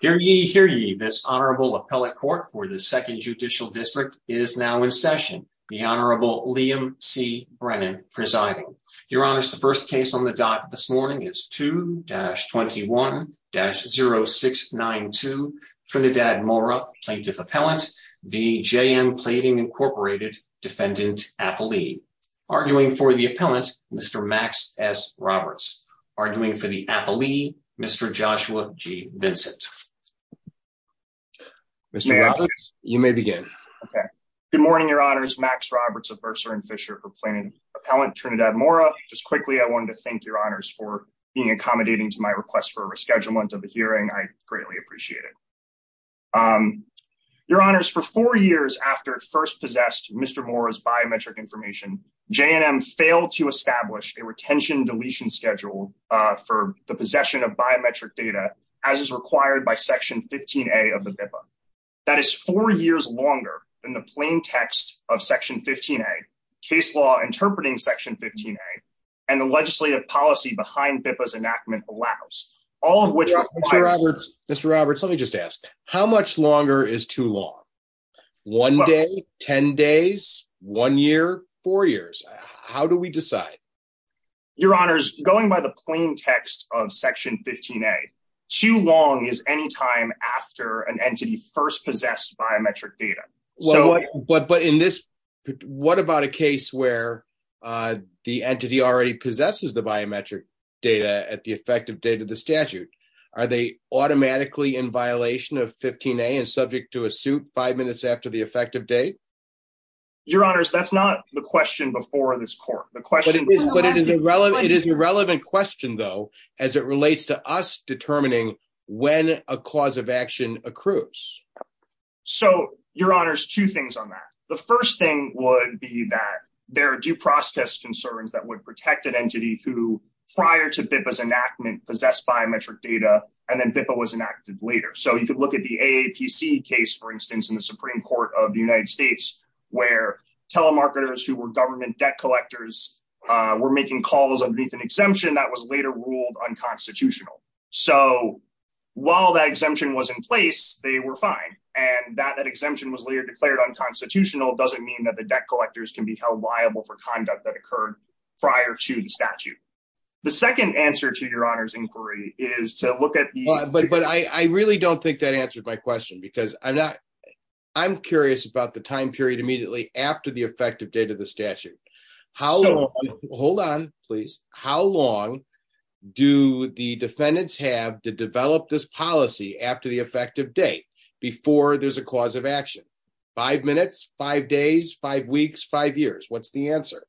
Hear ye, hear ye. This Honorable Appellate Court for the 2nd Judicial District is now in session, the Honorable Liam C. Brennan presiding. Your Honors, the first case on the dot this morning is 2-21-0692, Trinidad Mora, Plaintiff Appellant v. J&M Plating, Inc. Defendant Appellee. Arguing for the Appellant, Mr. Max S. Roberts. Arguing for the Appellee, Mr. Joshua G. Vincent. Mr. Roberts, you may begin. Good morning, Your Honors. Max Roberts of Mercer & Fisher for Plaintiff Appellant, Trinidad Mora. Just quickly, I wanted to thank Your Honors for being accommodating to my request for a rescheduling of the hearing. I greatly appreciate it. Your Honors, for four years after it first possessed Mr. Mora's biometric information, J&M failed to establish a retention deletion schedule for the possession of biometric data as is required by Section 15A of the BIPA. That is four years longer than the plain text of Section 15A, case law interpreting Section 15A, and the legislative policy behind BIPA's enactment allows. Mr. Roberts, let me just ask, how much longer is too long? One day? Ten days? One year? Four years? How do we decide? Your Honors, going by the plain text of Section 15A, too long is any time after an entity first possessed biometric data. But what about a case where the entity already possesses the biometric data at the effective date of the statute? Are they automatically in violation of 15A and subject to a suit five minutes after the effective date? Your Honors, that's not the question before this court. But it is a relevant question, though, as it relates to us determining when a cause of action accrues. So, Your Honors, two things on that. The first thing would be that there are due process concerns that would protect an entity who, prior to BIPA's enactment, possessed biometric data, and then BIPA was enacted later. So you could look at the AAPC case, for instance, in the Supreme Court of the United States, where telemarketers who were government debt collectors were making calls underneath an exemption that was later ruled unconstitutional. So while that exemption was in place, they were fine. And that that exemption was later declared unconstitutional doesn't mean that the debt collectors can be held liable for conduct that occurred prior to the statute. The second answer to Your Honors' inquiry is to look at the… How long do defendants have to develop this policy after the effective date before there's a cause of action? Five minutes? Five days? Five weeks? Five years? What's the answer?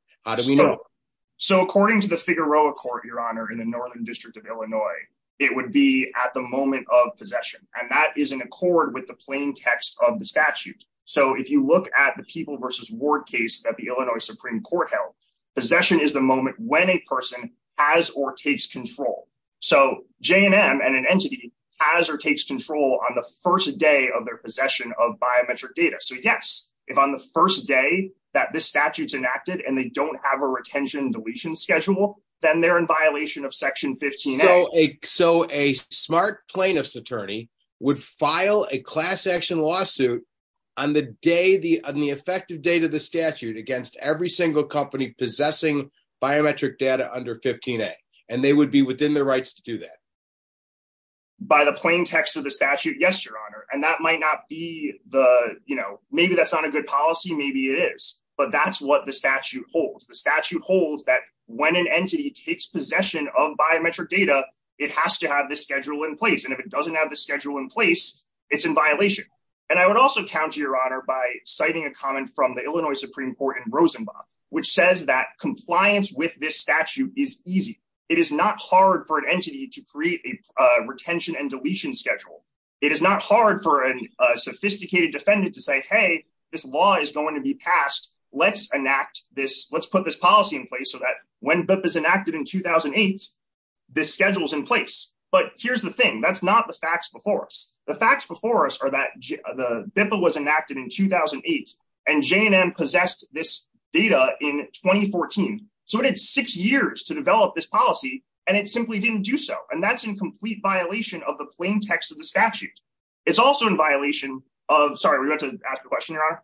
So, according to the Figueroa Court, Your Honor, in the Northern District of Illinois, it would be at the moment of possession. And that is in accord with the plain text of the statute. So if you look at the People v. Ward case that the Illinois Supreme Court held, possession is the moment when a person has or takes control. So J&M and an entity has or takes control on the first day of their possession of biometric data. So, yes, if on the first day that this statute's enacted and they don't have a retention deletion schedule, then they're in violation of Section 15A. So a smart plaintiff's attorney would file a class action lawsuit on the effective date of the statute against every single company possessing biometric data under 15A, and they would be within their rights to do that? By the plain text of the statute, yes, Your Honor. And that might not be the, you know, maybe that's not a good policy. Maybe it is. But that's what the statute holds. The statute holds that when an entity takes possession of biometric data, it has to have this schedule in place. And if it doesn't have the schedule in place, it's in violation. And I would also counter, Your Honor, by citing a comment from the Illinois Supreme Court in Rosenbach, which says that compliance with this statute is easy. It is not hard for an entity to create a retention and deletion schedule. It is not hard for a sophisticated defendant to say, hey, this law is going to be passed. Let's enact this. Let's put this policy in place so that when BIPA is enacted in 2008, this schedule is in place. But here's the thing. That's not the facts before us. The facts before us are that the BIPA was enacted in 2008, and J&M possessed this data in 2014. So it had six years to develop this policy, and it simply didn't do so. And that's in complete violation of the plain text of the statute. It's also in violation of — sorry, were you about to ask a question, Your Honor?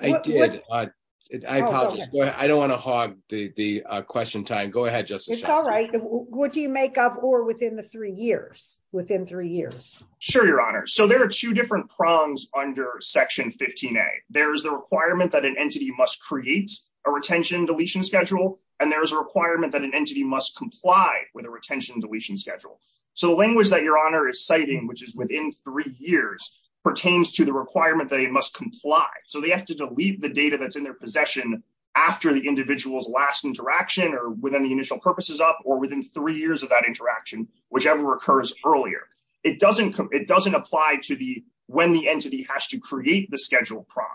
I did. I apologize. I don't want to hog the question time. Go ahead, Justice Shastri. It's all right. What do you make of or within the three years? Within three years? Sure, Your Honor. So there are two different prongs under Section 15A. There is the requirement that an entity must create a retention and deletion schedule, and there is a requirement that an entity must comply with a retention and deletion schedule. So the language that Your Honor is citing, which is within three years, pertains to the requirement that it must comply. So they have to delete the data that's in their possession after the individual's last interaction or within the initial purposes up or within three years of that interaction, whichever occurs earlier. It doesn't apply to when the entity has to create the schedule prong.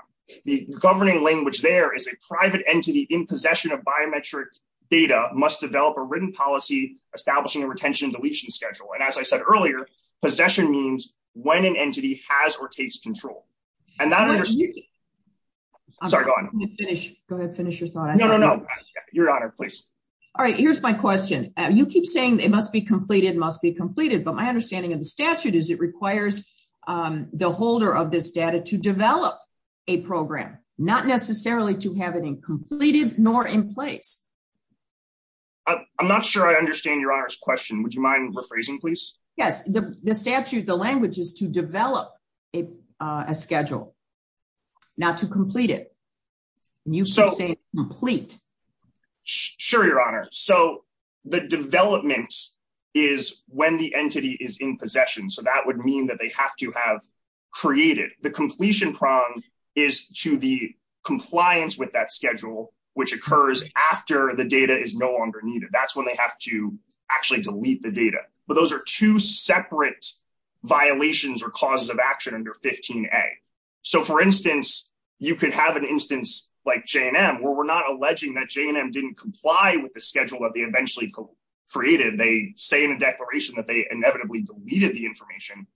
The governing language there is a private entity in possession of biometric data must develop a written policy establishing a retention and deletion schedule. And as I said earlier, possession means when an entity has or takes control. And that — sorry, go on. Go ahead and finish your thought. No, no, no. Your Honor, please. All right, here's my question. You keep saying it must be completed, must be completed, but my understanding of the statute is it requires the holder of this data to develop a program, not necessarily to have it completed nor in place. I'm not sure I understand Your Honor's question. Would you mind rephrasing, please? Yes, the statute, the language is to develop a schedule, not to complete it. And you keep saying complete. Sure, Your Honor. So the development is when the entity is in possession. So that would mean that they have to have created. The completion prong is to the compliance with that schedule, which occurs after the data is no longer needed. That's when they have to actually delete the data. But those are two separate violations or causes of action under 15A. So, for instance, you could have an instance like J&M where we're not alleging that J&M didn't comply with the schedule that they eventually created. They say in a declaration that they inevitably deleted the information.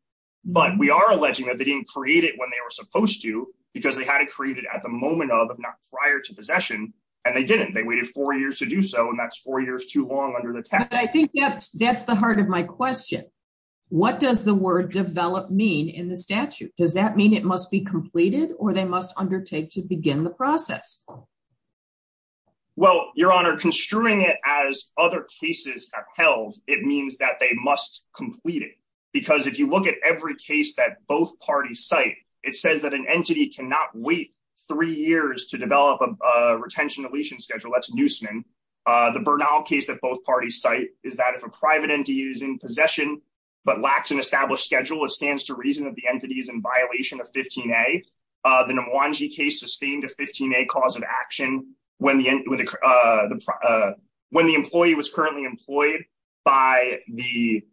But we are alleging that they didn't create it when they were supposed to, because they had to create it at the moment of, not prior to possession, and they didn't. They waited four years to do so, and that's four years too long under the text. But I think that's the heart of my question. What does the word develop mean in the statute? Does that mean it must be completed or they must undertake to begin the process? Well, Your Honor, construing it as other cases have held, it means that they must complete it. Because if you look at every case that both parties cite, it says that an entity cannot wait three years to develop a retention deletion schedule. That's Neusman. The Bernal case that both parties cite is that if a private entity is in possession but lacks an established schedule, it stands to reason that the entity is in violation of 15A. The Namwanji case sustained a 15A cause of action when the employee was currently employed by the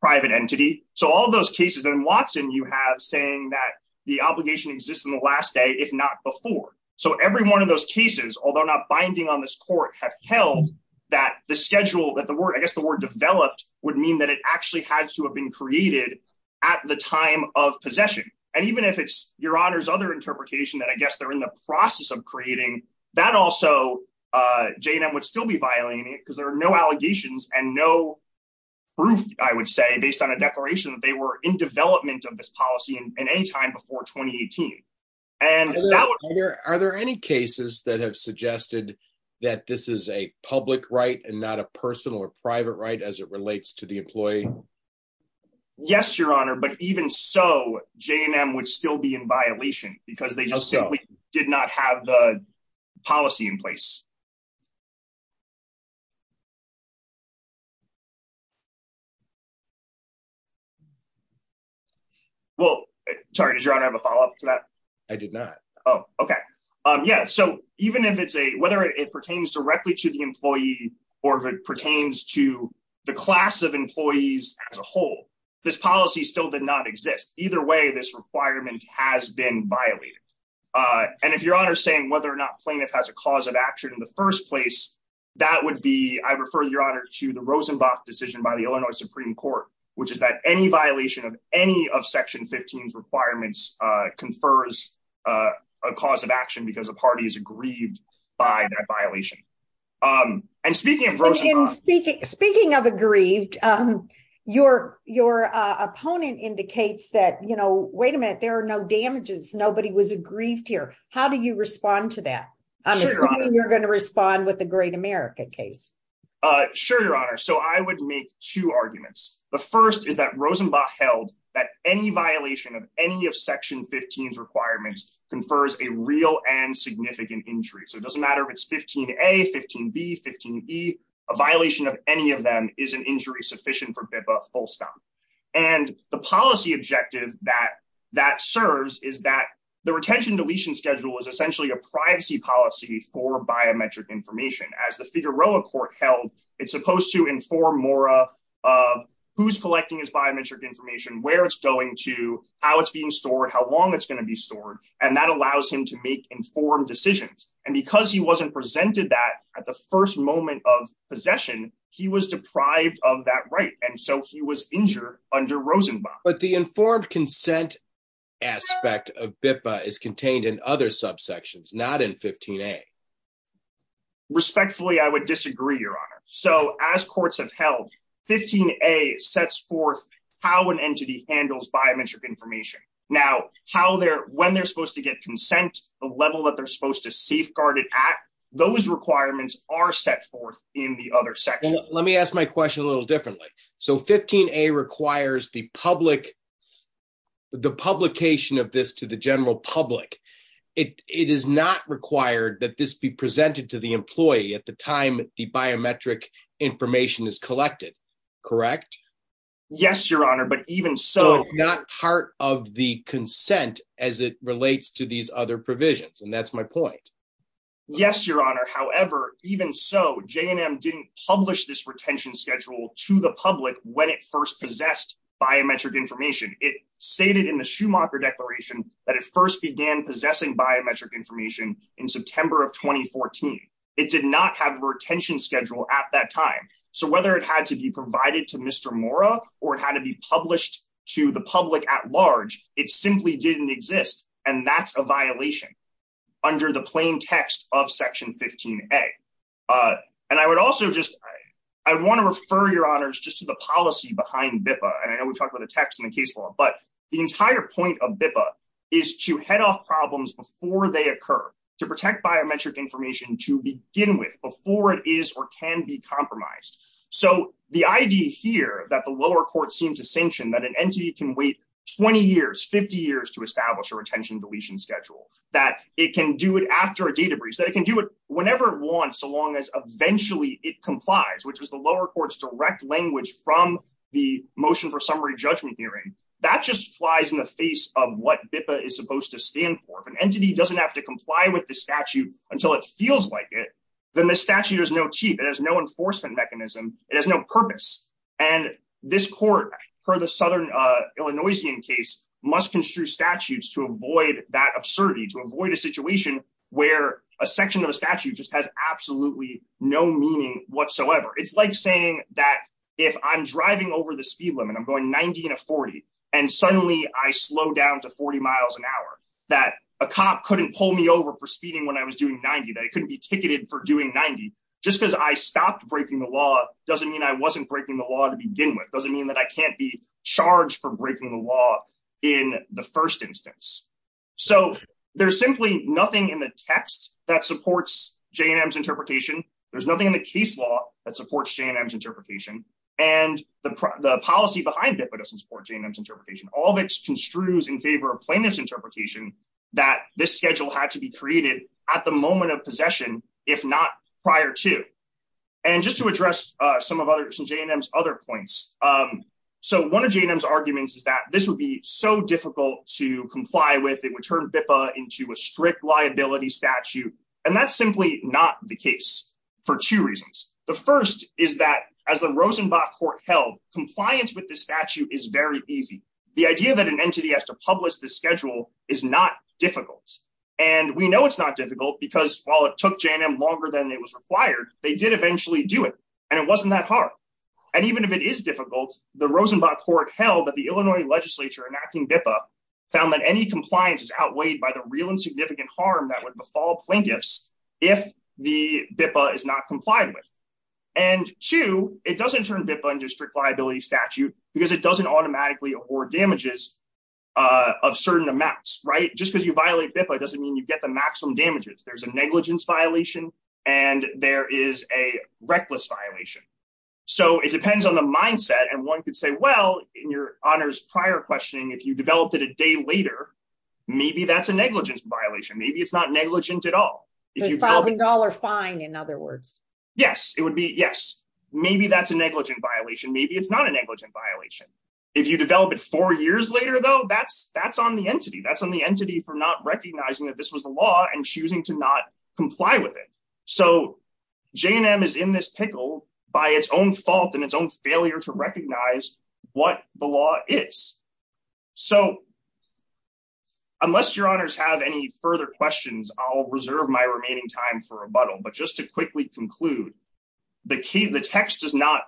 private entity. So all those cases in Watson you have saying that the obligation exists in the last day, if not before. So every one of those cases, although not binding on this court, have held that the schedule, I guess the word developed, would mean that it actually had to have been created at the time of possession. And even if it's Your Honor's other interpretation that I guess they're in the process of creating, that also J&M would still be violating it because there are no allegations and no proof, I would say, based on a declaration that they were in development of this policy at any time before 2018. Are there any cases that have suggested that this is a public right and not a personal or private right as it relates to the employee? Yes, Your Honor, but even so, J&M would still be in violation because they just simply did not have the policy in place. Well, sorry, did Your Honor have a follow up to that? I did not. Yeah, so even if it's a, whether it pertains directly to the employee or if it pertains to the class of employees as a whole, this policy still did not exist. Either way, this requirement has been violated. And if Your Honor is saying whether or not plaintiff has a cause of action in the first place, that would be, I refer Your Honor to the Rosenbach decision by the Illinois Supreme Court, which is that any violation of any of Section 15's requirements confers a cause of action because a party is aggrieved by that violation. And speaking of aggrieved, your opponent indicates that, you know, wait a minute, there are no damages, nobody was aggrieved here. How do you respond to that? You're going to respond with the Great America case. Sure, Your Honor. So I would make two arguments. The first is that Rosenbach held that any violation of any of Section 15's requirements confers a real and significant injury. So it doesn't matter if it's 15A, 15B, 15E, a violation of any of them is an injury sufficient for BIPA full stop. And the policy objective that serves is that the retention deletion schedule is essentially a privacy policy for biometric information. As the Figueroa court held, it's supposed to inform Mora of who's collecting his biometric information, where it's going to, how it's being stored, how long it's going to be stored, and that allows him to make informed decisions. And because he wasn't presented that at the first moment of possession, he was deprived of that right. And so he was injured under Rosenbach. But the informed consent aspect of BIPA is contained in other subsections, not in 15A. Respectfully, I would disagree, Your Honor. So as courts have held, 15A sets forth how an entity handles biometric information. Now, when they're supposed to get consent, the level that they're supposed to safeguard it at, those requirements are set forth in the other section. Let me ask my question a little differently. So 15A requires the publication of this to the general public. It is not required that this be presented to the employee at the time the biometric information is collected, correct? Yes, Your Honor, but even so... So not part of the consent as it relates to these other provisions, and that's my point. Yes, Your Honor. However, even so, J&M didn't publish this retention schedule to the public when it first possessed biometric information. It stated in the Schumacher Declaration that it first began possessing biometric information in September of 2014. It did not have a retention schedule at that time. So whether it had to be provided to Mr. Mora or it had to be published to the public at large, it simply didn't exist. And that's a violation under the plain text of Section 15A. And I would also just... I want to refer, Your Honors, just to the policy behind BIPA. And I know we talked about the text in the case law, but the entire point of BIPA is to head off problems before they occur, to protect biometric information to begin with before it is or can be compromised. So the idea here that the lower court seemed to sanction that an entity can wait 20 years, 50 years to establish a retention deletion schedule, that it can do it after a data breach, that it can do it whenever it wants so long as eventually it complies, which is the lower court's direct language from the motion for summary judgment hearing. That just flies in the face of what BIPA is supposed to stand for. If an entity doesn't have to comply with the statute until it feels like it, then the statute has no teeth. It has no enforcement mechanism. It has no purpose. And this court, per the Southern Illinoisian case, must construe statutes to avoid that absurdity, to avoid a situation where a section of a statute just has absolutely no meaning whatsoever. It's like saying that if I'm driving over the speed limit, I'm going 90 to 40, and suddenly I slow down to 40 miles an hour, that a cop couldn't pull me over for speeding when I was doing 90, that I couldn't be ticketed for doing 90. Just because I stopped breaking the law doesn't mean I wasn't breaking the law to begin with. It doesn't mean that I can't be charged for breaking the law in the first instance. So there's simply nothing in the text that supports J&M's interpretation. There's nothing in the case law that supports J&M's interpretation. And the policy behind BIPA doesn't support J&M's interpretation. All of it construes in favor of plaintiff's interpretation that this schedule had to be created at the moment of possession, if not prior to. And just to address some of J&M's other points. So one of J&M's arguments is that this would be so difficult to comply with. It would turn BIPA into a strict liability statute. And that's simply not the case for two reasons. The first is that as the Rosenbach Court held, compliance with the statute is very easy. The idea that an entity has to publish the schedule is not difficult. And we know it's not difficult because while it took J&M longer than it was required, they did eventually do it. And it wasn't that hard. And even if it is difficult, the Rosenbach Court held that the Illinois legislature enacting BIPA found that any compliance is outweighed by the real and significant harm that would befall plaintiffs if the BIPA is not complied with. And two, it doesn't turn BIPA into a strict liability statute because it doesn't automatically award damages of certain amounts, right? Just because you violate BIPA doesn't mean you get the maximum damages. There's a negligence violation and there is a reckless violation. So it depends on the mindset. And one could say, well, in your honors prior questioning, if you developed it a day later, maybe that's a negligence violation. Maybe it's not negligent at all. A $1,000 fine, in other words. Yes. It would be, yes. Maybe that's a negligent violation. Maybe it's not a negligent violation. If you develop it four years later, though, that's on the entity. That's on the entity for not recognizing that this was the law and choosing to not comply with it. So J&M is in this pickle by its own fault and its own failure to recognize what the law is. So unless your honors have any further questions, I'll reserve my remaining time for rebuttal. But just to quickly conclude, the text does not.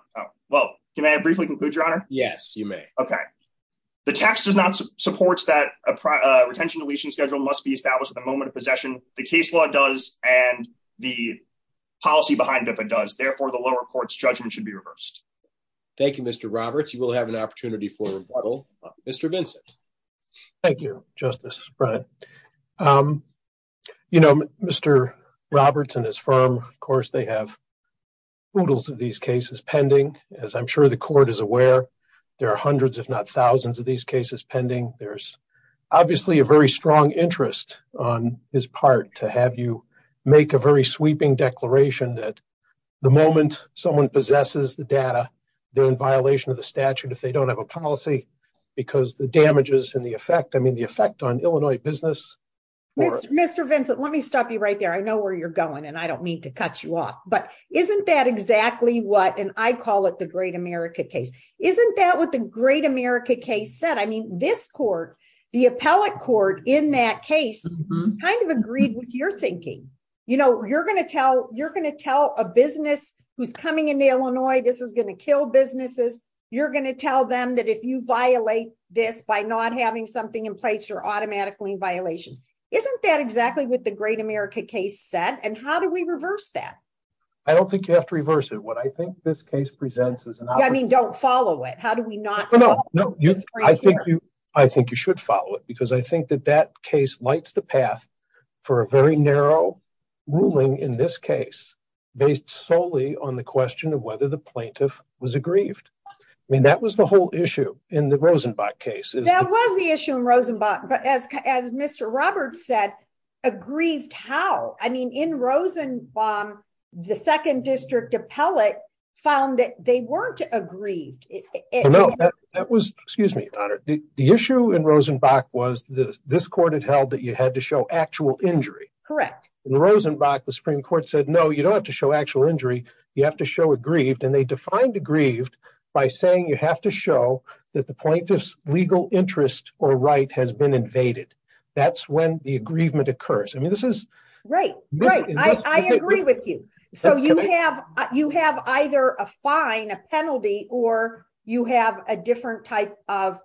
Well, can I briefly conclude, your honor? Yes, you may. Okay. The text does not support that a retention deletion schedule must be established at the moment of possession. The case law does, and the policy behind it does. Therefore, the lower court's judgment should be reversed. Thank you, Mr. Roberts. You will have an opportunity for rebuttal. Mr. Vincent. Thank you, Justice Bryant. You know, Mr. Roberts and his firm, of course, they have oodles of these cases pending. As I'm sure the court is aware, there are hundreds, if not thousands, of these cases pending. There's obviously a very strong interest on his part to have you make a very sweeping declaration that the moment someone possesses the data, they're in violation of the statute if they don't have a policy. Because the damages and the effect, I mean, the effect on Illinois business. Mr. Vincent, let me stop you right there. I know where you're going, and I don't mean to cut you off. But isn't that exactly what, and I call it the Great America case. Isn't that what the Great America case said? I mean, this court, the appellate court in that case, kind of agreed with your thinking. You know, you're going to tell a business who's coming into Illinois, this is going to kill businesses. You're going to tell them that if you violate this by not having something in place, you're automatically in violation. Isn't that exactly what the Great America case said? And how do we reverse that? I don't think you have to reverse it. What I think this case presents is an opportunity. I mean, don't follow it. How do we not follow it? I think you should follow it, because I think that that case lights the path for a very narrow ruling in this case based solely on the question of whether the plaintiff was aggrieved. I mean, that was the whole issue in the Rosenbach case. That was the issue in Rosenbach, but as Mr. Roberts said, aggrieved how? I mean, in Rosenbach, the second district appellate found that they weren't aggrieved. No, that was, excuse me, Your Honor, the issue in Rosenbach was this court had held that you had to show actual injury. Correct. In Rosenbach, the Supreme Court said, no, you don't have to show actual injury. You have to show aggrieved, and they defined aggrieved by saying you have to show that the plaintiff's legal interest or right has been invaded. That's when the aggrievement occurs. I mean, this is... Right, right. I agree with you. So you have either a fine, a penalty, or you have a different type of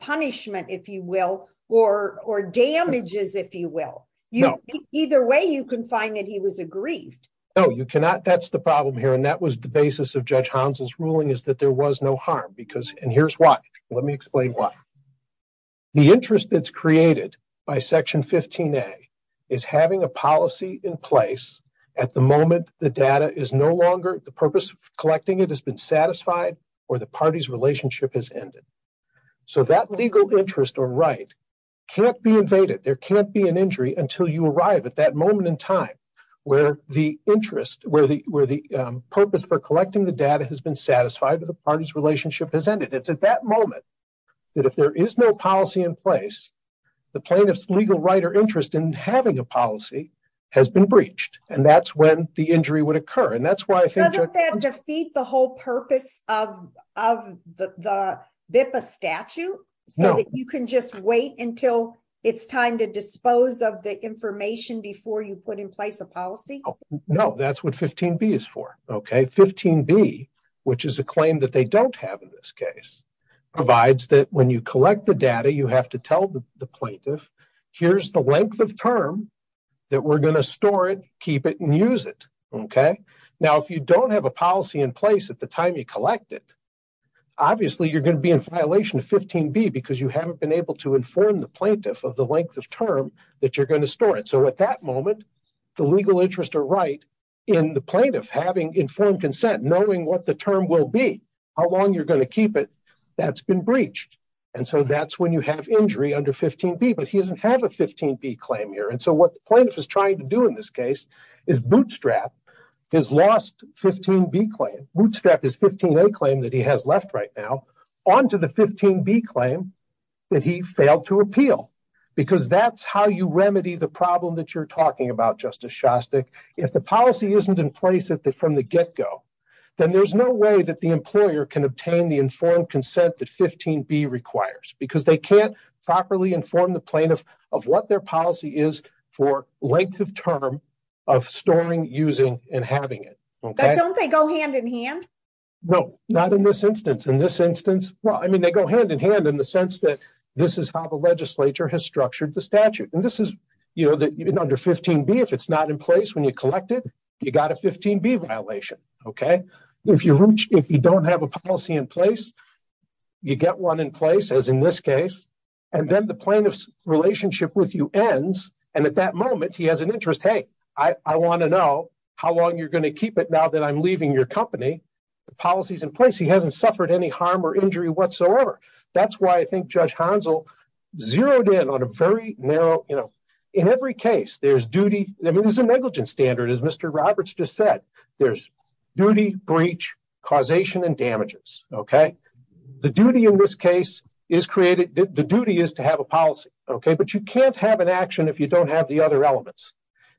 punishment, if you will, or damages, if you will. Either way, you can find that he was aggrieved. No, you cannot. That's the problem here, and that was the basis of Judge Hounsell's ruling, is that there was no harm. And here's why. Let me explain why. The interest that's created by Section 15A is having a policy in place at the moment the data is no longer, the purpose of collecting it has been satisfied, or the party's relationship has ended. So that legal interest or right can't be invaded. There can't be an injury until you arrive at that moment in time where the interest, where the purpose for collecting the data has been satisfied, or the party's relationship has ended. It's at that moment that if there is no policy in place, the plaintiff's legal right or interest in having a policy has been breached, and that's when the injury would occur. Doesn't that defeat the whole purpose of the BIPA statute? No. So that you can just wait until it's time to dispose of the information before you put in place a policy? No, that's what 15B is for. 15B, which is a claim that they don't have in this case, provides that when you collect the data, you have to tell the plaintiff, here's the length of term that we're going to store it, keep it, and use it. Now, if you don't have a policy in place at the time you collect it, obviously you're going to be in violation of 15B because you haven't been able to inform the plaintiff of the length of term that you're going to store it. So at that moment, the legal interest or right in the plaintiff having informed consent, knowing what the term will be, how long you're going to keep it, that's been breached. And so that's when you have injury under 15B, but he doesn't have a 15B claim here. And so what the plaintiff is trying to do in this case is bootstrap his lost 15B claim, bootstrap his 15A claim that he has left right now, onto the 15B claim that he failed to appeal. Because that's how you remedy the problem that you're talking about, Justice Shostak. If the policy isn't in place from the get-go, then there's no way that the employer can obtain the informed consent that 15B requires, because they can't properly inform the plaintiff of what their policy is for length of term of storing, using, and having it. But don't they go hand-in-hand? No, not in this instance. In this instance, well, I mean, they go hand-in-hand in the sense that this is how the legislature has structured the statute. And this is under 15B. If it's not in place when you collect it, you got a 15B violation, okay? If you don't have a policy in place, you get one in place, as in this case, and then the plaintiff's relationship with you ends. And at that moment, he has an interest, hey, I want to know how long you're going to keep it now that I'm leaving your company. The policy's in place. He hasn't suffered any harm or injury whatsoever. That's why I think Judge Hanzel zeroed in on a very narrow, you know, in every case, there's duty. I mean, there's a negligence standard, as Mr. Roberts just said. There's duty, breach, causation, and damages, okay? The duty in this case is created. The duty is to have a policy, okay? But you can't have an action if you don't have the other elements.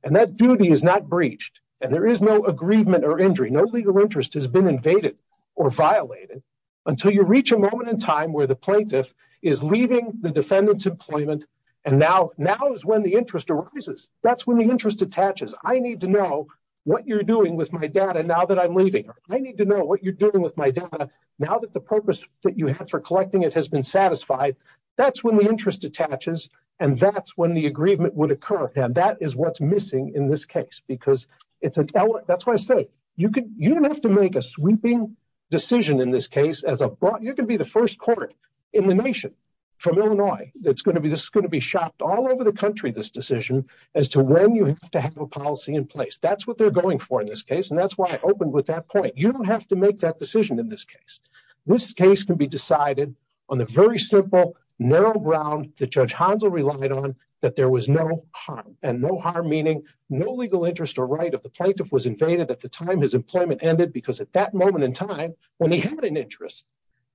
And that duty is not breached. And there is no aggrievement or injury. No legal interest has been invaded or violated until you reach a moment in time where the plaintiff is leaving the defendant's employment, and now is when the interest arises. That's when the interest attaches. I need to know what you're doing with my data now that I'm leaving. I need to know what you're doing with my data now that the purpose that you had for collecting it has been satisfied. That's when the interest attaches, and that's when the aggrievement would occur. And that is what's missing in this case. That's why I say you don't have to make a sweeping decision in this case. You're going to be the first court in the nation from Illinois that's going to be shopped all over the country, this decision, as to when you have to have a policy in place. That's what they're going for in this case, and that's why I opened with that point. You don't have to make that decision in this case. This case can be decided on the very simple, narrow ground that Judge Hanzel relied on, that there was no harm. And no harm meaning no legal interest or right of the plaintiff was invaded at the time his employment ended, because at that moment in time, when he had an interest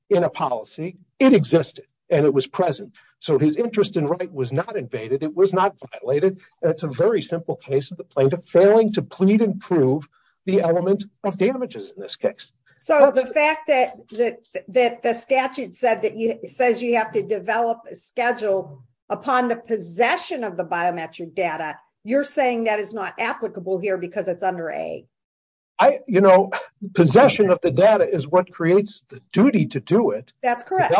in a policy, it existed, and it was present. So his interest and right was not invaded. It was not violated, and it's a very simple case of the plaintiff failing to plead and prove the element of damages in this case. So the fact that the statute says you have to develop a schedule upon the possession of the biometric data, you're saying that is not applicable here because it's under A? Possession of the data is what creates the duty to do it. That's correct.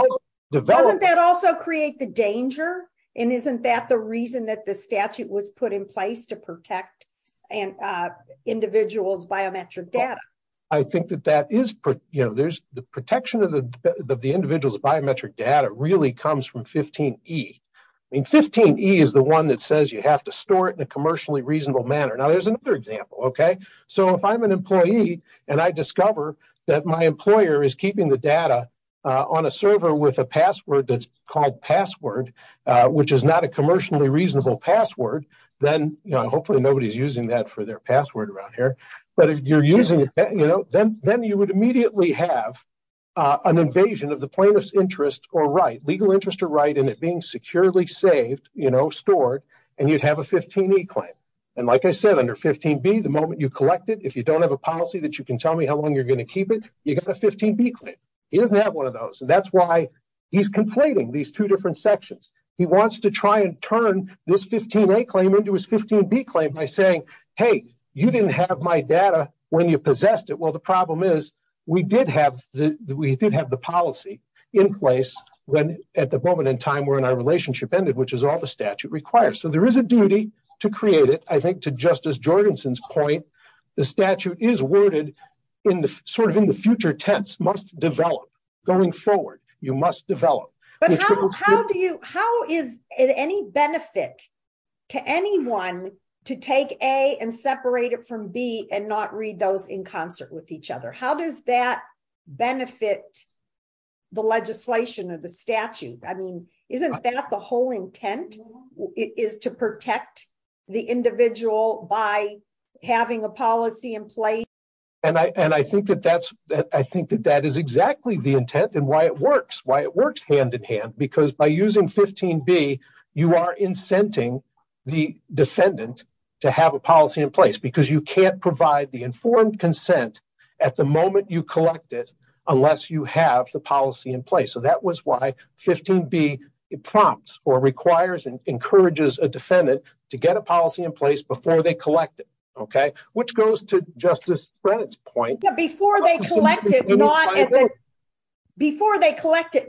Doesn't that also create the danger? And isn't that the reason that the statute was put in place to protect an individual's biometric data? I think that the protection of the individual's biometric data really comes from 15E. I mean, 15E is the one that says you have to store it in a commercially reasonable manner. Now, there's another example. So if I'm an employee and I discover that my employer is keeping the data on a server with a password that's called password, which is not a commercially reasonable password, then hopefully nobody's using that for their password around here. But if you're using it, then you would immediately have an invasion of the plaintiff's interest or right, legal interest or right, and it being securely saved, stored, and you'd have a 15E claim. And like I said, under 15B, the moment you collect it, if you don't have a policy that you can tell me how long you're going to keep it, you've got a 15B claim. He doesn't have one of those, and that's why he's conflating these two different sections. He wants to try and turn this 15A claim into his 15B claim by saying, hey, you didn't have my data when you possessed it. Well, the problem is we did have the policy in place at the moment in time when our relationship ended, which is all the statute requires. So there is a duty to create it. I think to Justice Jorgensen's point, the statute is worded sort of in the future tense, must develop. Going forward, you must develop. But how is it any benefit to anyone to take A and separate it from B and not read those in concert with each other? How does that benefit the legislation or the statute? I mean, isn't that the whole intent is to protect the individual by having a policy in place? And I think that that is exactly the intent and why it works, why it works hand in hand, because by using 15B, you are incenting the defendant to have a policy in place because you can't provide the informed consent at the moment you collect it unless you have the policy in place. So that was why 15B prompts or requires and encourages a defendant to get a policy in place before they collect it. Which goes to Justice Brennan's point. Before they collect it,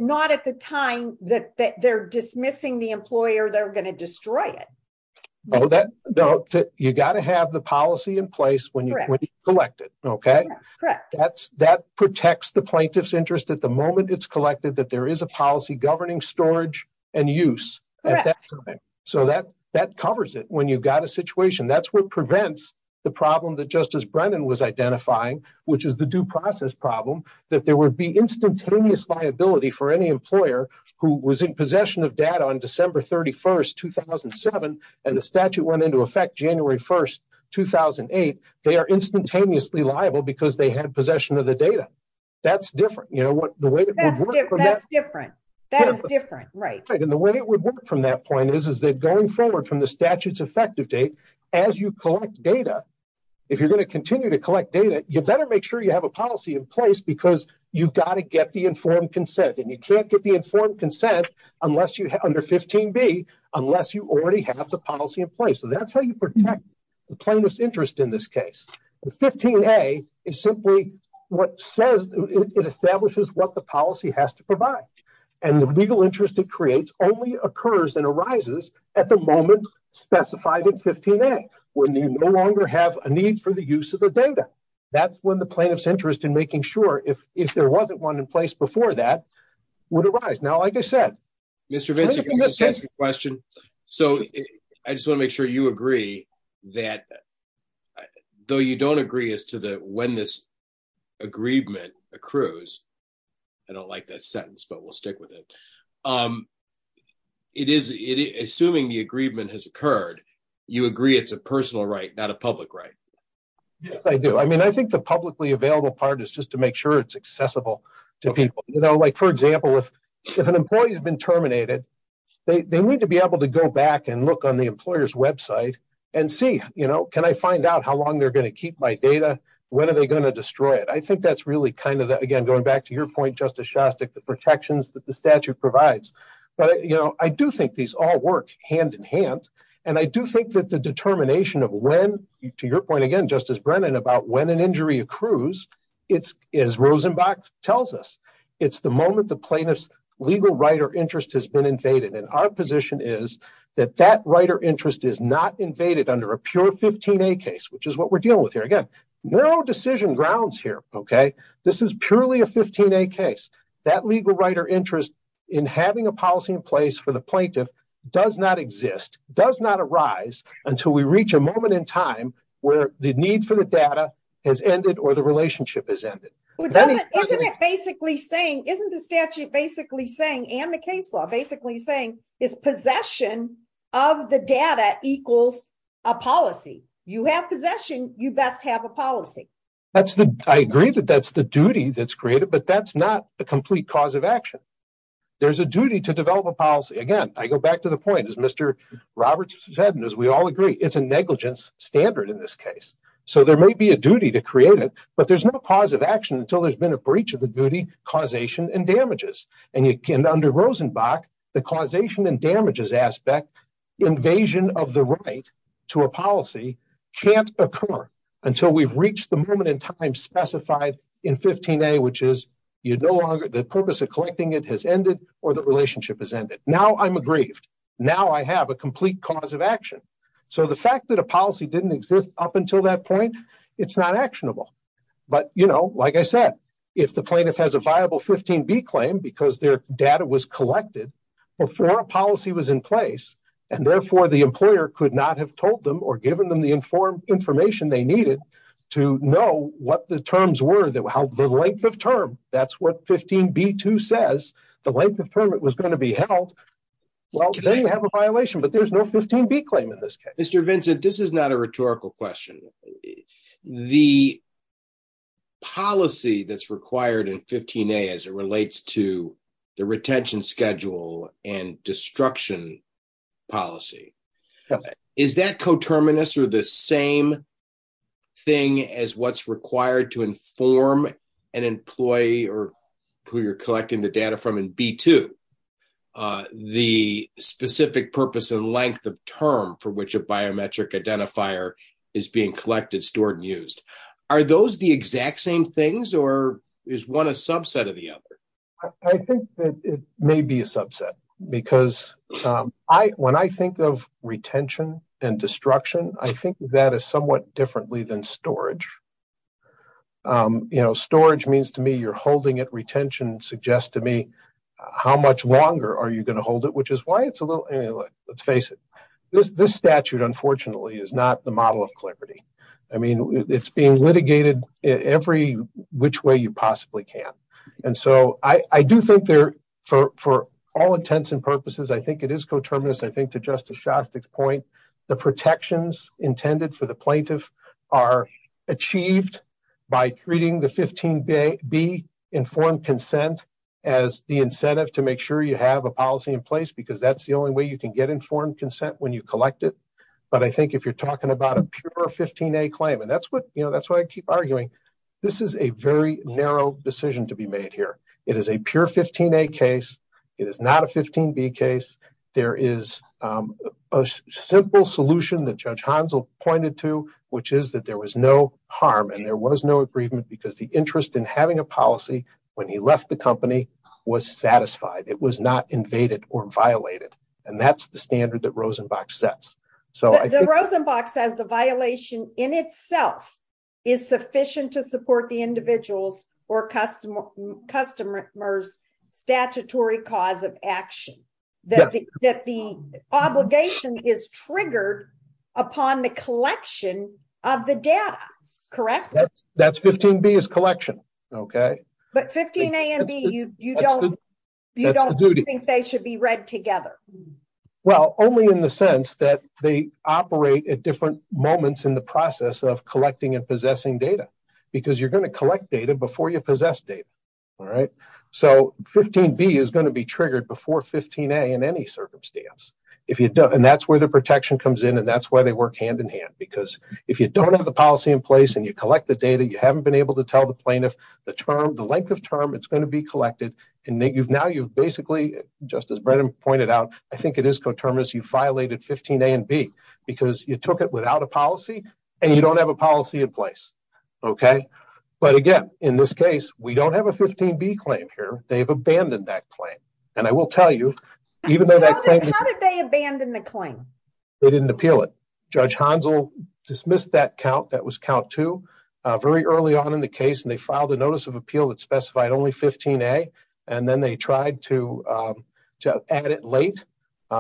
not at the time that they're dismissing the employer, they're going to destroy it. You got to have the policy in place when you collect it. That protects the plaintiff's interest at the moment it's collected, that there is a policy governing storage and use. So that covers it when you've got a situation. That's what prevents the problem that Justice Brennan was identifying, which is the due process problem, that there would be instantaneous liability for any employer who was in possession of data on December 31st, 2007, and the statute went into effect January 1st, 2008. They are instantaneously liable because they had possession of the data. That's different. That's different. That is different. Right. And the way it would work from that point is that going forward from the statute's effective date, as you collect data, if you're going to continue to collect data, you better make sure you have a policy in place because you've got to get the informed consent. And you can't get the informed consent under 15B unless you already have the policy in place. So that's how you protect the plaintiff's interest in this case. 15A is simply what says it establishes what the policy has to provide. And the legal interest it creates only occurs and arises at the moment specified in 15A, when you no longer have a need for the use of the data. That's when the plaintiff's interest in making sure if there wasn't one in place before that would arise. Mr. Vinci, can I just ask you a question? So I just want to make sure you agree that though you don't agree as to when this agreement accrues, I don't like that sentence, but we'll stick with it. It is assuming the agreement has occurred, you agree it's a personal right, not a public right? Yes, I do. I mean, I think the publicly available part is just to make sure it's accessible to people. You know, like, for example, if an employee has been terminated, they need to be able to go back and look on the employer's website and see, you know, can I find out how long they're going to keep my data? When are they going to destroy it? I think that's really kind of, again, going back to your point, Justice Shostak, the protections that the statute provides. But, you know, I do think these all work hand in hand. And I do think that the determination of when, to your point again, Justice Brennan, about when an injury accrues, it's, as Rosenbach tells us, it's the moment the plaintiff's legal right or interest has been invaded. And our position is that that right or interest is not invaded under a pure 15A case, which is what we're dealing with here. Again, no decision grounds here, okay? This is purely a 15A case. That legal right or interest in having a policy in place for the plaintiff does not exist, does not arise until we reach a moment in time where the need for the data has ended or the relationship has ended. Isn't it basically saying, isn't the statute basically saying, and the case law basically saying, is possession of the data equals a policy? You have possession, you best have a policy. I agree that that's the duty that's created, but that's not a complete cause of action. There's a duty to develop a policy. Again, I go back to the point, as Mr. Roberts has said, and as we all agree, it's a negligence standard in this case. So there may be a duty to create it, but there's no cause of action until there's been a breach of the duty, causation, and damages. And under Rosenbach, the causation and damages aspect, invasion of the right to a policy, can't occur until we've reached the moment in time specified in 15A, which is the purpose of collecting it has ended or the relationship has ended. Now I'm aggrieved. Now I have a complete cause of action. So the fact that a policy didn't exist up until that point, it's not actionable. But, you know, like I said, if the plaintiff has a viable 15B claim because their data was collected before a policy was in place, and therefore the employer could not have told them or given them the information they needed to know what the terms were, the length of term. That's what 15B2 says, the length of term it was going to be held. Well, then you have a violation, but there's no 15B claim in this case. Mr. Vincent, this is not a rhetorical question. The policy that's required in 15A as it relates to the retention schedule and destruction policy. Is that coterminous or the same thing as what's required to inform an employee or who you're collecting the data from in B2? The specific purpose and length of term for which a biometric identifier is being collected, stored and used. Are those the exact same things or is one a subset of the other? I think that it may be a subset because when I think of retention and destruction, I think that is somewhat differently than storage. You know, storage means to me you're holding it. Retention suggests to me how much longer are you going to hold it, which is why it's a little, let's face it. This statute, unfortunately, is not the model of clarity. I mean, it's being litigated every which way you possibly can. And so I do think there for all intents and purposes, I think it is coterminous. I think to Justice Shostak's point, the protections intended for the plaintiff are achieved by treating the 15B informed consent as the incentive to make sure you have a policy in place. Because that's the only way you can get informed consent when you collect it. But I think if you're talking about a pure 15A claim, and that's what, you know, that's why I keep arguing. This is a very narrow decision to be made here. It is a pure 15A case. It is not a 15B case. There is a simple solution that Judge Hansel pointed to, which is that there was no harm and there was no agreement because the interest in having a policy when he left the company was satisfied. It was not invaded or violated. And that's the standard that Rosenbach sets. The Rosenbach says the violation in itself is sufficient to support the individual's or customer's statutory cause of action. That the obligation is triggered upon the collection of the data. Correct? That's 15B is collection. Okay. But 15A and B, you don't think they should be read together? Well, only in the sense that they operate at different moments in the process of collecting and possessing data. Because you're going to collect data before you possess data. All right. So 15B is going to be triggered before 15A in any circumstance. And that's where the protection comes in. And that's why they work hand in hand. Because if you don't have the policy in place and you collect the data, you haven't been able to tell the plaintiff the term, the length of term it's going to be collected. And now you've basically, just as Brennan pointed out, I think it is coterminous, you violated 15A and B. Because you took it without a policy and you don't have a policy in place. Okay. But again, in this case, we don't have a 15B claim here. They've abandoned that claim. And I will tell you, even though that claim. How did they abandon the claim? They didn't appeal it. Judge Hansel dismissed that count. That was count two. Very early on in the case. And they filed a notice of appeal that specified only 15A. And then they tried to add it late.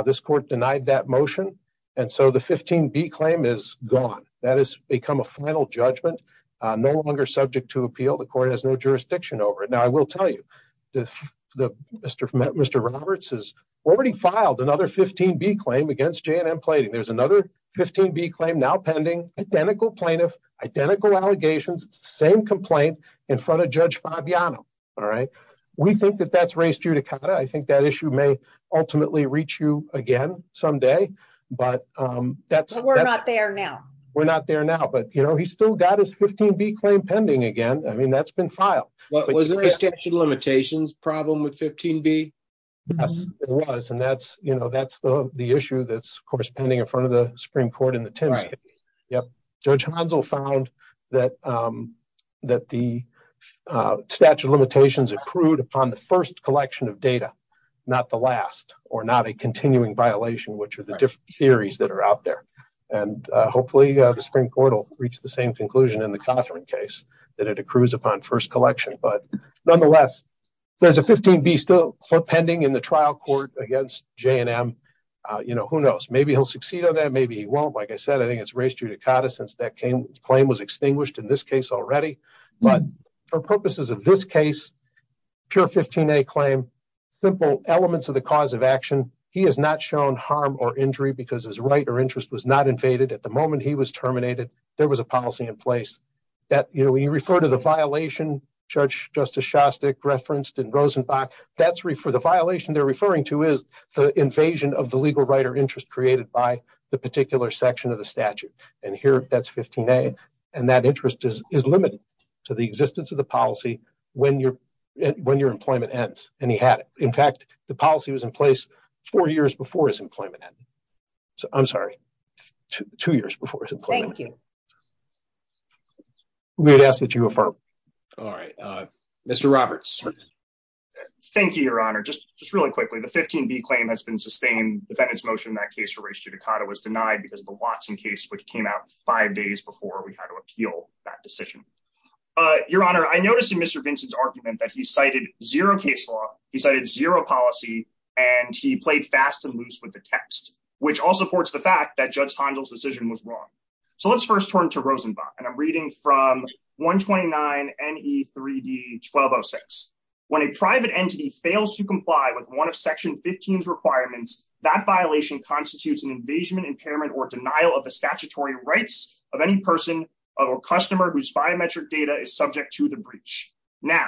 This court denied that motion. And so the 15B claim is gone. That has become a final judgment. No longer subject to appeal. The court has no jurisdiction over it. Now, I will tell you, Mr. Roberts has already filed another 15B claim against J&M Plating. There's another 15B claim now pending. Identical plaintiff. Identical allegations. Same complaint in front of Judge Fabiano. All right? We think that that's raised judicata. I think that issue may ultimately reach you again someday. But that's. We're not there now. We're not there now. But, you know, he's still got his 15B claim pending again. I mean, that's been filed. Was it an extension limitations problem with 15B? Yes, it was. And that's, you know, that's the issue that's, of course, pending in front of the Supreme Court in the Tims case. Yep. Judge Hanzel found that the statute of limitations accrued upon the first collection of data. Not the last. Or not a continuing violation, which are the different theories that are out there. And hopefully the Supreme Court will reach the same conclusion in the Cothran case. That it accrues upon first collection. But, nonetheless, there's a 15B still pending in the trial court against J&M. You know, who knows? Maybe he'll succeed on that. Maybe he won't. Like I said, I think it's raised judicata since that claim was extinguished in this case already. But for purposes of this case, pure 15A claim, simple elements of the cause of action. He has not shown harm or injury because his right or interest was not invaded. At the moment he was terminated, there was a policy in place. We refer to the violation Judge Justice Shostak referenced in Rosenbach. The violation they're referring to is the invasion of the legal right or interest created by the particular section of the statute. And here that's 15A. And that interest is limited to the existence of the policy when your employment ends. And he had it. In fact, the policy was in place four years before his employment ended. I'm sorry. Two years before his employment ended. Thank you. We would ask that you affirm. All right. Mr. Roberts. Thank you, Your Honor. Just really quickly. The 15B claim has been sustained. Defendant's motion in that case for raised judicata was denied because of the Watson case, which came out five days before we had to appeal that decision. Your Honor, I noticed in Mr. Vincent's argument that he cited zero case law. He cited zero policy. And he played fast and loose with the text, which all supports the fact that Judge Hondel's decision was wrong. So let's first turn to Rosenbach. And I'm reading from 129NE3D1206. When a private entity fails to comply with one of Section 15's requirements, that violation constitutes an invasion, impairment, or denial of the statutory rights of any person or customer whose biometric data is subject to the breach. Now,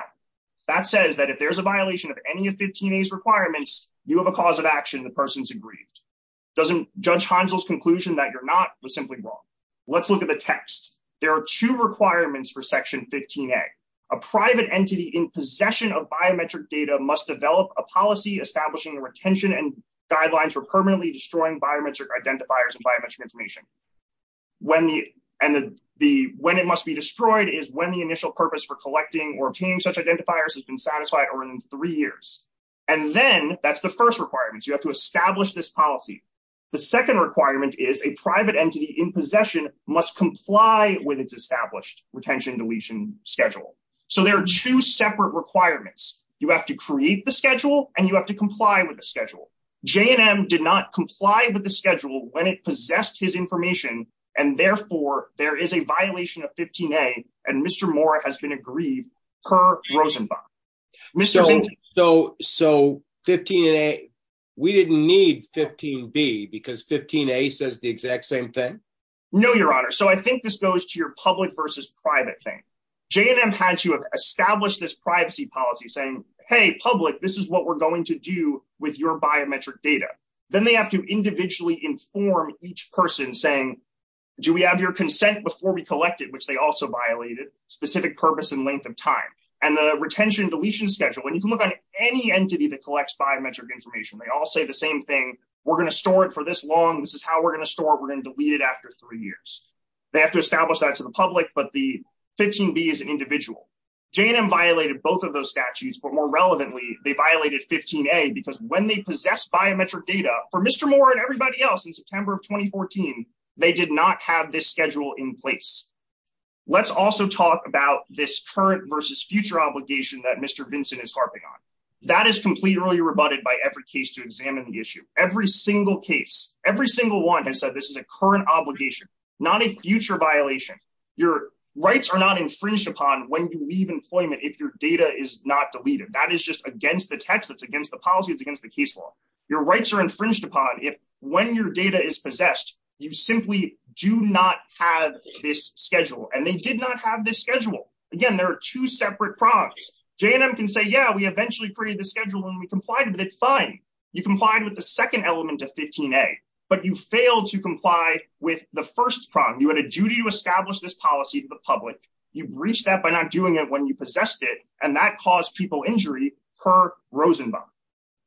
that says that if there's a violation of any of 15A's requirements, you have a cause of action. The person's aggrieved. Judge Hondel's conclusion that you're not was simply wrong. Let's look at the text. There are two requirements for Section 15A. A private entity in possession of biometric data must develop a policy establishing the retention and guidelines for permanently destroying biometric identifiers and biometric information. And when it must be destroyed is when the initial purpose for collecting or obtaining such identifiers has been satisfied or in three years. And then, that's the first requirement. You have to establish this policy. The second requirement is a private entity in possession must comply with its established retention and deletion schedule. So there are two separate requirements. You have to create the schedule, and you have to comply with the schedule. J&M did not comply with the schedule when it possessed his information, and therefore, there is a violation of 15A, and Mr. Moore has been aggrieved per Rosenbach. So 15A, we didn't need 15B because 15A says the exact same thing? No, Your Honor. So I think this goes to your public versus private thing. J&M had to have established this privacy policy saying, hey, public, this is what we're going to do with your biometric data. Then they have to individually inform each person saying, do we have your consent before we collect it, which they also violated, specific purpose and length of time. And the retention and deletion schedule. And you can look on any entity that collects biometric information. They all say the same thing. We're going to store it for this long. This is how we're going to store it. We're going to delete it after three years. They have to establish that to the public, but the 15B is an individual. J&M violated both of those statutes, but more relevantly, they violated 15A because when they possess biometric data, for Mr. Moore and everybody else in September of 2014, they did not have this schedule in place. Let's also talk about this current versus future obligation that Mr. Vinson is harping on. That is completely rebutted by every case to examine the issue. Every single case, every single one has said this is a current obligation, not a future violation. Your rights are not infringed upon when you leave employment if your data is not deleted. That is just against the text. It's against the policy. It's against the case law. Your rights are infringed upon when your data is possessed. You simply do not have this schedule, and they did not have this schedule. Again, there are two separate prongs. J&M can say, yeah, we eventually created the schedule and we complied with it. Fine. You complied with the second element of 15A, but you failed to comply with the first prong. You had a duty to establish this policy to the public. You breached that by not doing it when you possessed it, and that caused people injury per Rosenbaum.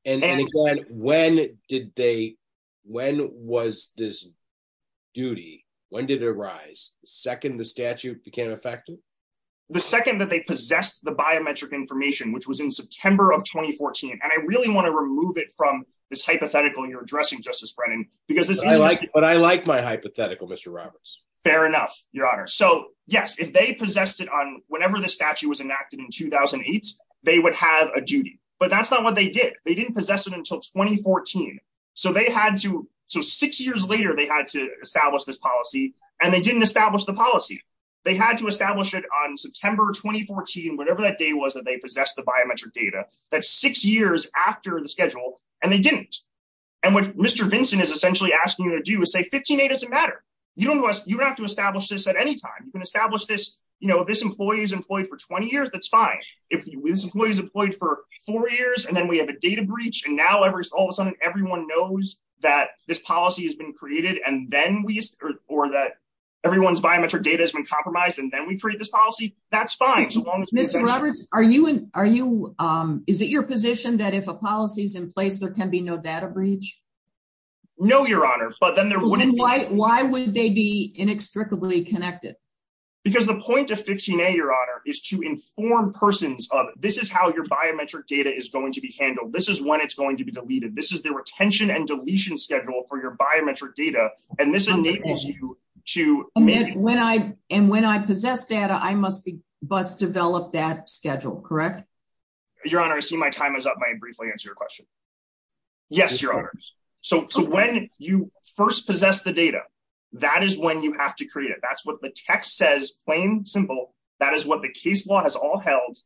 And again, when was this duty? When did it arise? The second the statute became effective? The second that they possessed the biometric information, which was in September of 2014. And I really want to remove it from this hypothetical you're addressing, Justice Brennan. But I like my hypothetical, Mr. Roberts. Fair enough, Your Honor. So, yes, if they possessed it on whenever the statute was enacted in 2008, they would have a duty. But that's not what they did. They didn't possess it until 2014. So six years later, they had to establish this policy, and they didn't establish the policy. They had to establish it on September 2014, whatever that day was that they possessed the biometric data. That's six years after the schedule, and they didn't. And what Mr. Vinson is essentially asking you to do is say 15A doesn't matter. You don't have to establish this at any time. You can establish this. If this employee is employed for 20 years, that's fine. If this employee is employed for four years, and then we have a data breach, and now all of a sudden everyone knows that this policy has been created, or that everyone's biometric data has been compromised, and then we create this policy, that's fine. Mr. Roberts, is it your position that if a policy is in place, there can be no data breach? No, Your Honor. Then why would they be inextricably connected? Because the point of 15A, Your Honor, is to inform persons of this is how your biometric data is going to be handled. This is when it's going to be deleted. This is the retention and deletion schedule for your biometric data, and this enables you to make it. And when I possess data, I must develop that schedule, correct? Your Honor, I see my time is up. May I briefly answer your question? Yes, Your Honor. So when you first possess the data, that is when you have to create it. That's what the text says, plain and simple. That is what the case law has all held,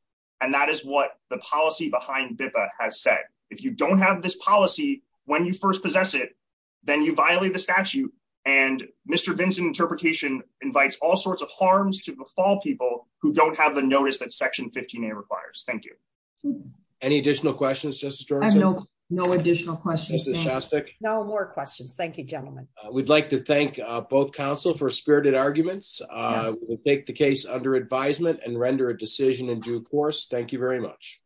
and that is what the policy behind BIPA has said. If you don't have this policy when you first possess it, then you violate the statute, and Mr. Vinson's interpretation invites all sorts of harms to befall people who don't have the notice that Section 15A requires. Thank you. Any additional questions, Justice Georgeson? No additional questions. No more questions. Thank you, gentlemen. We'd like to thank both counsel for spirited arguments. We take the case under advisement and render a decision in due course. Thank you very much.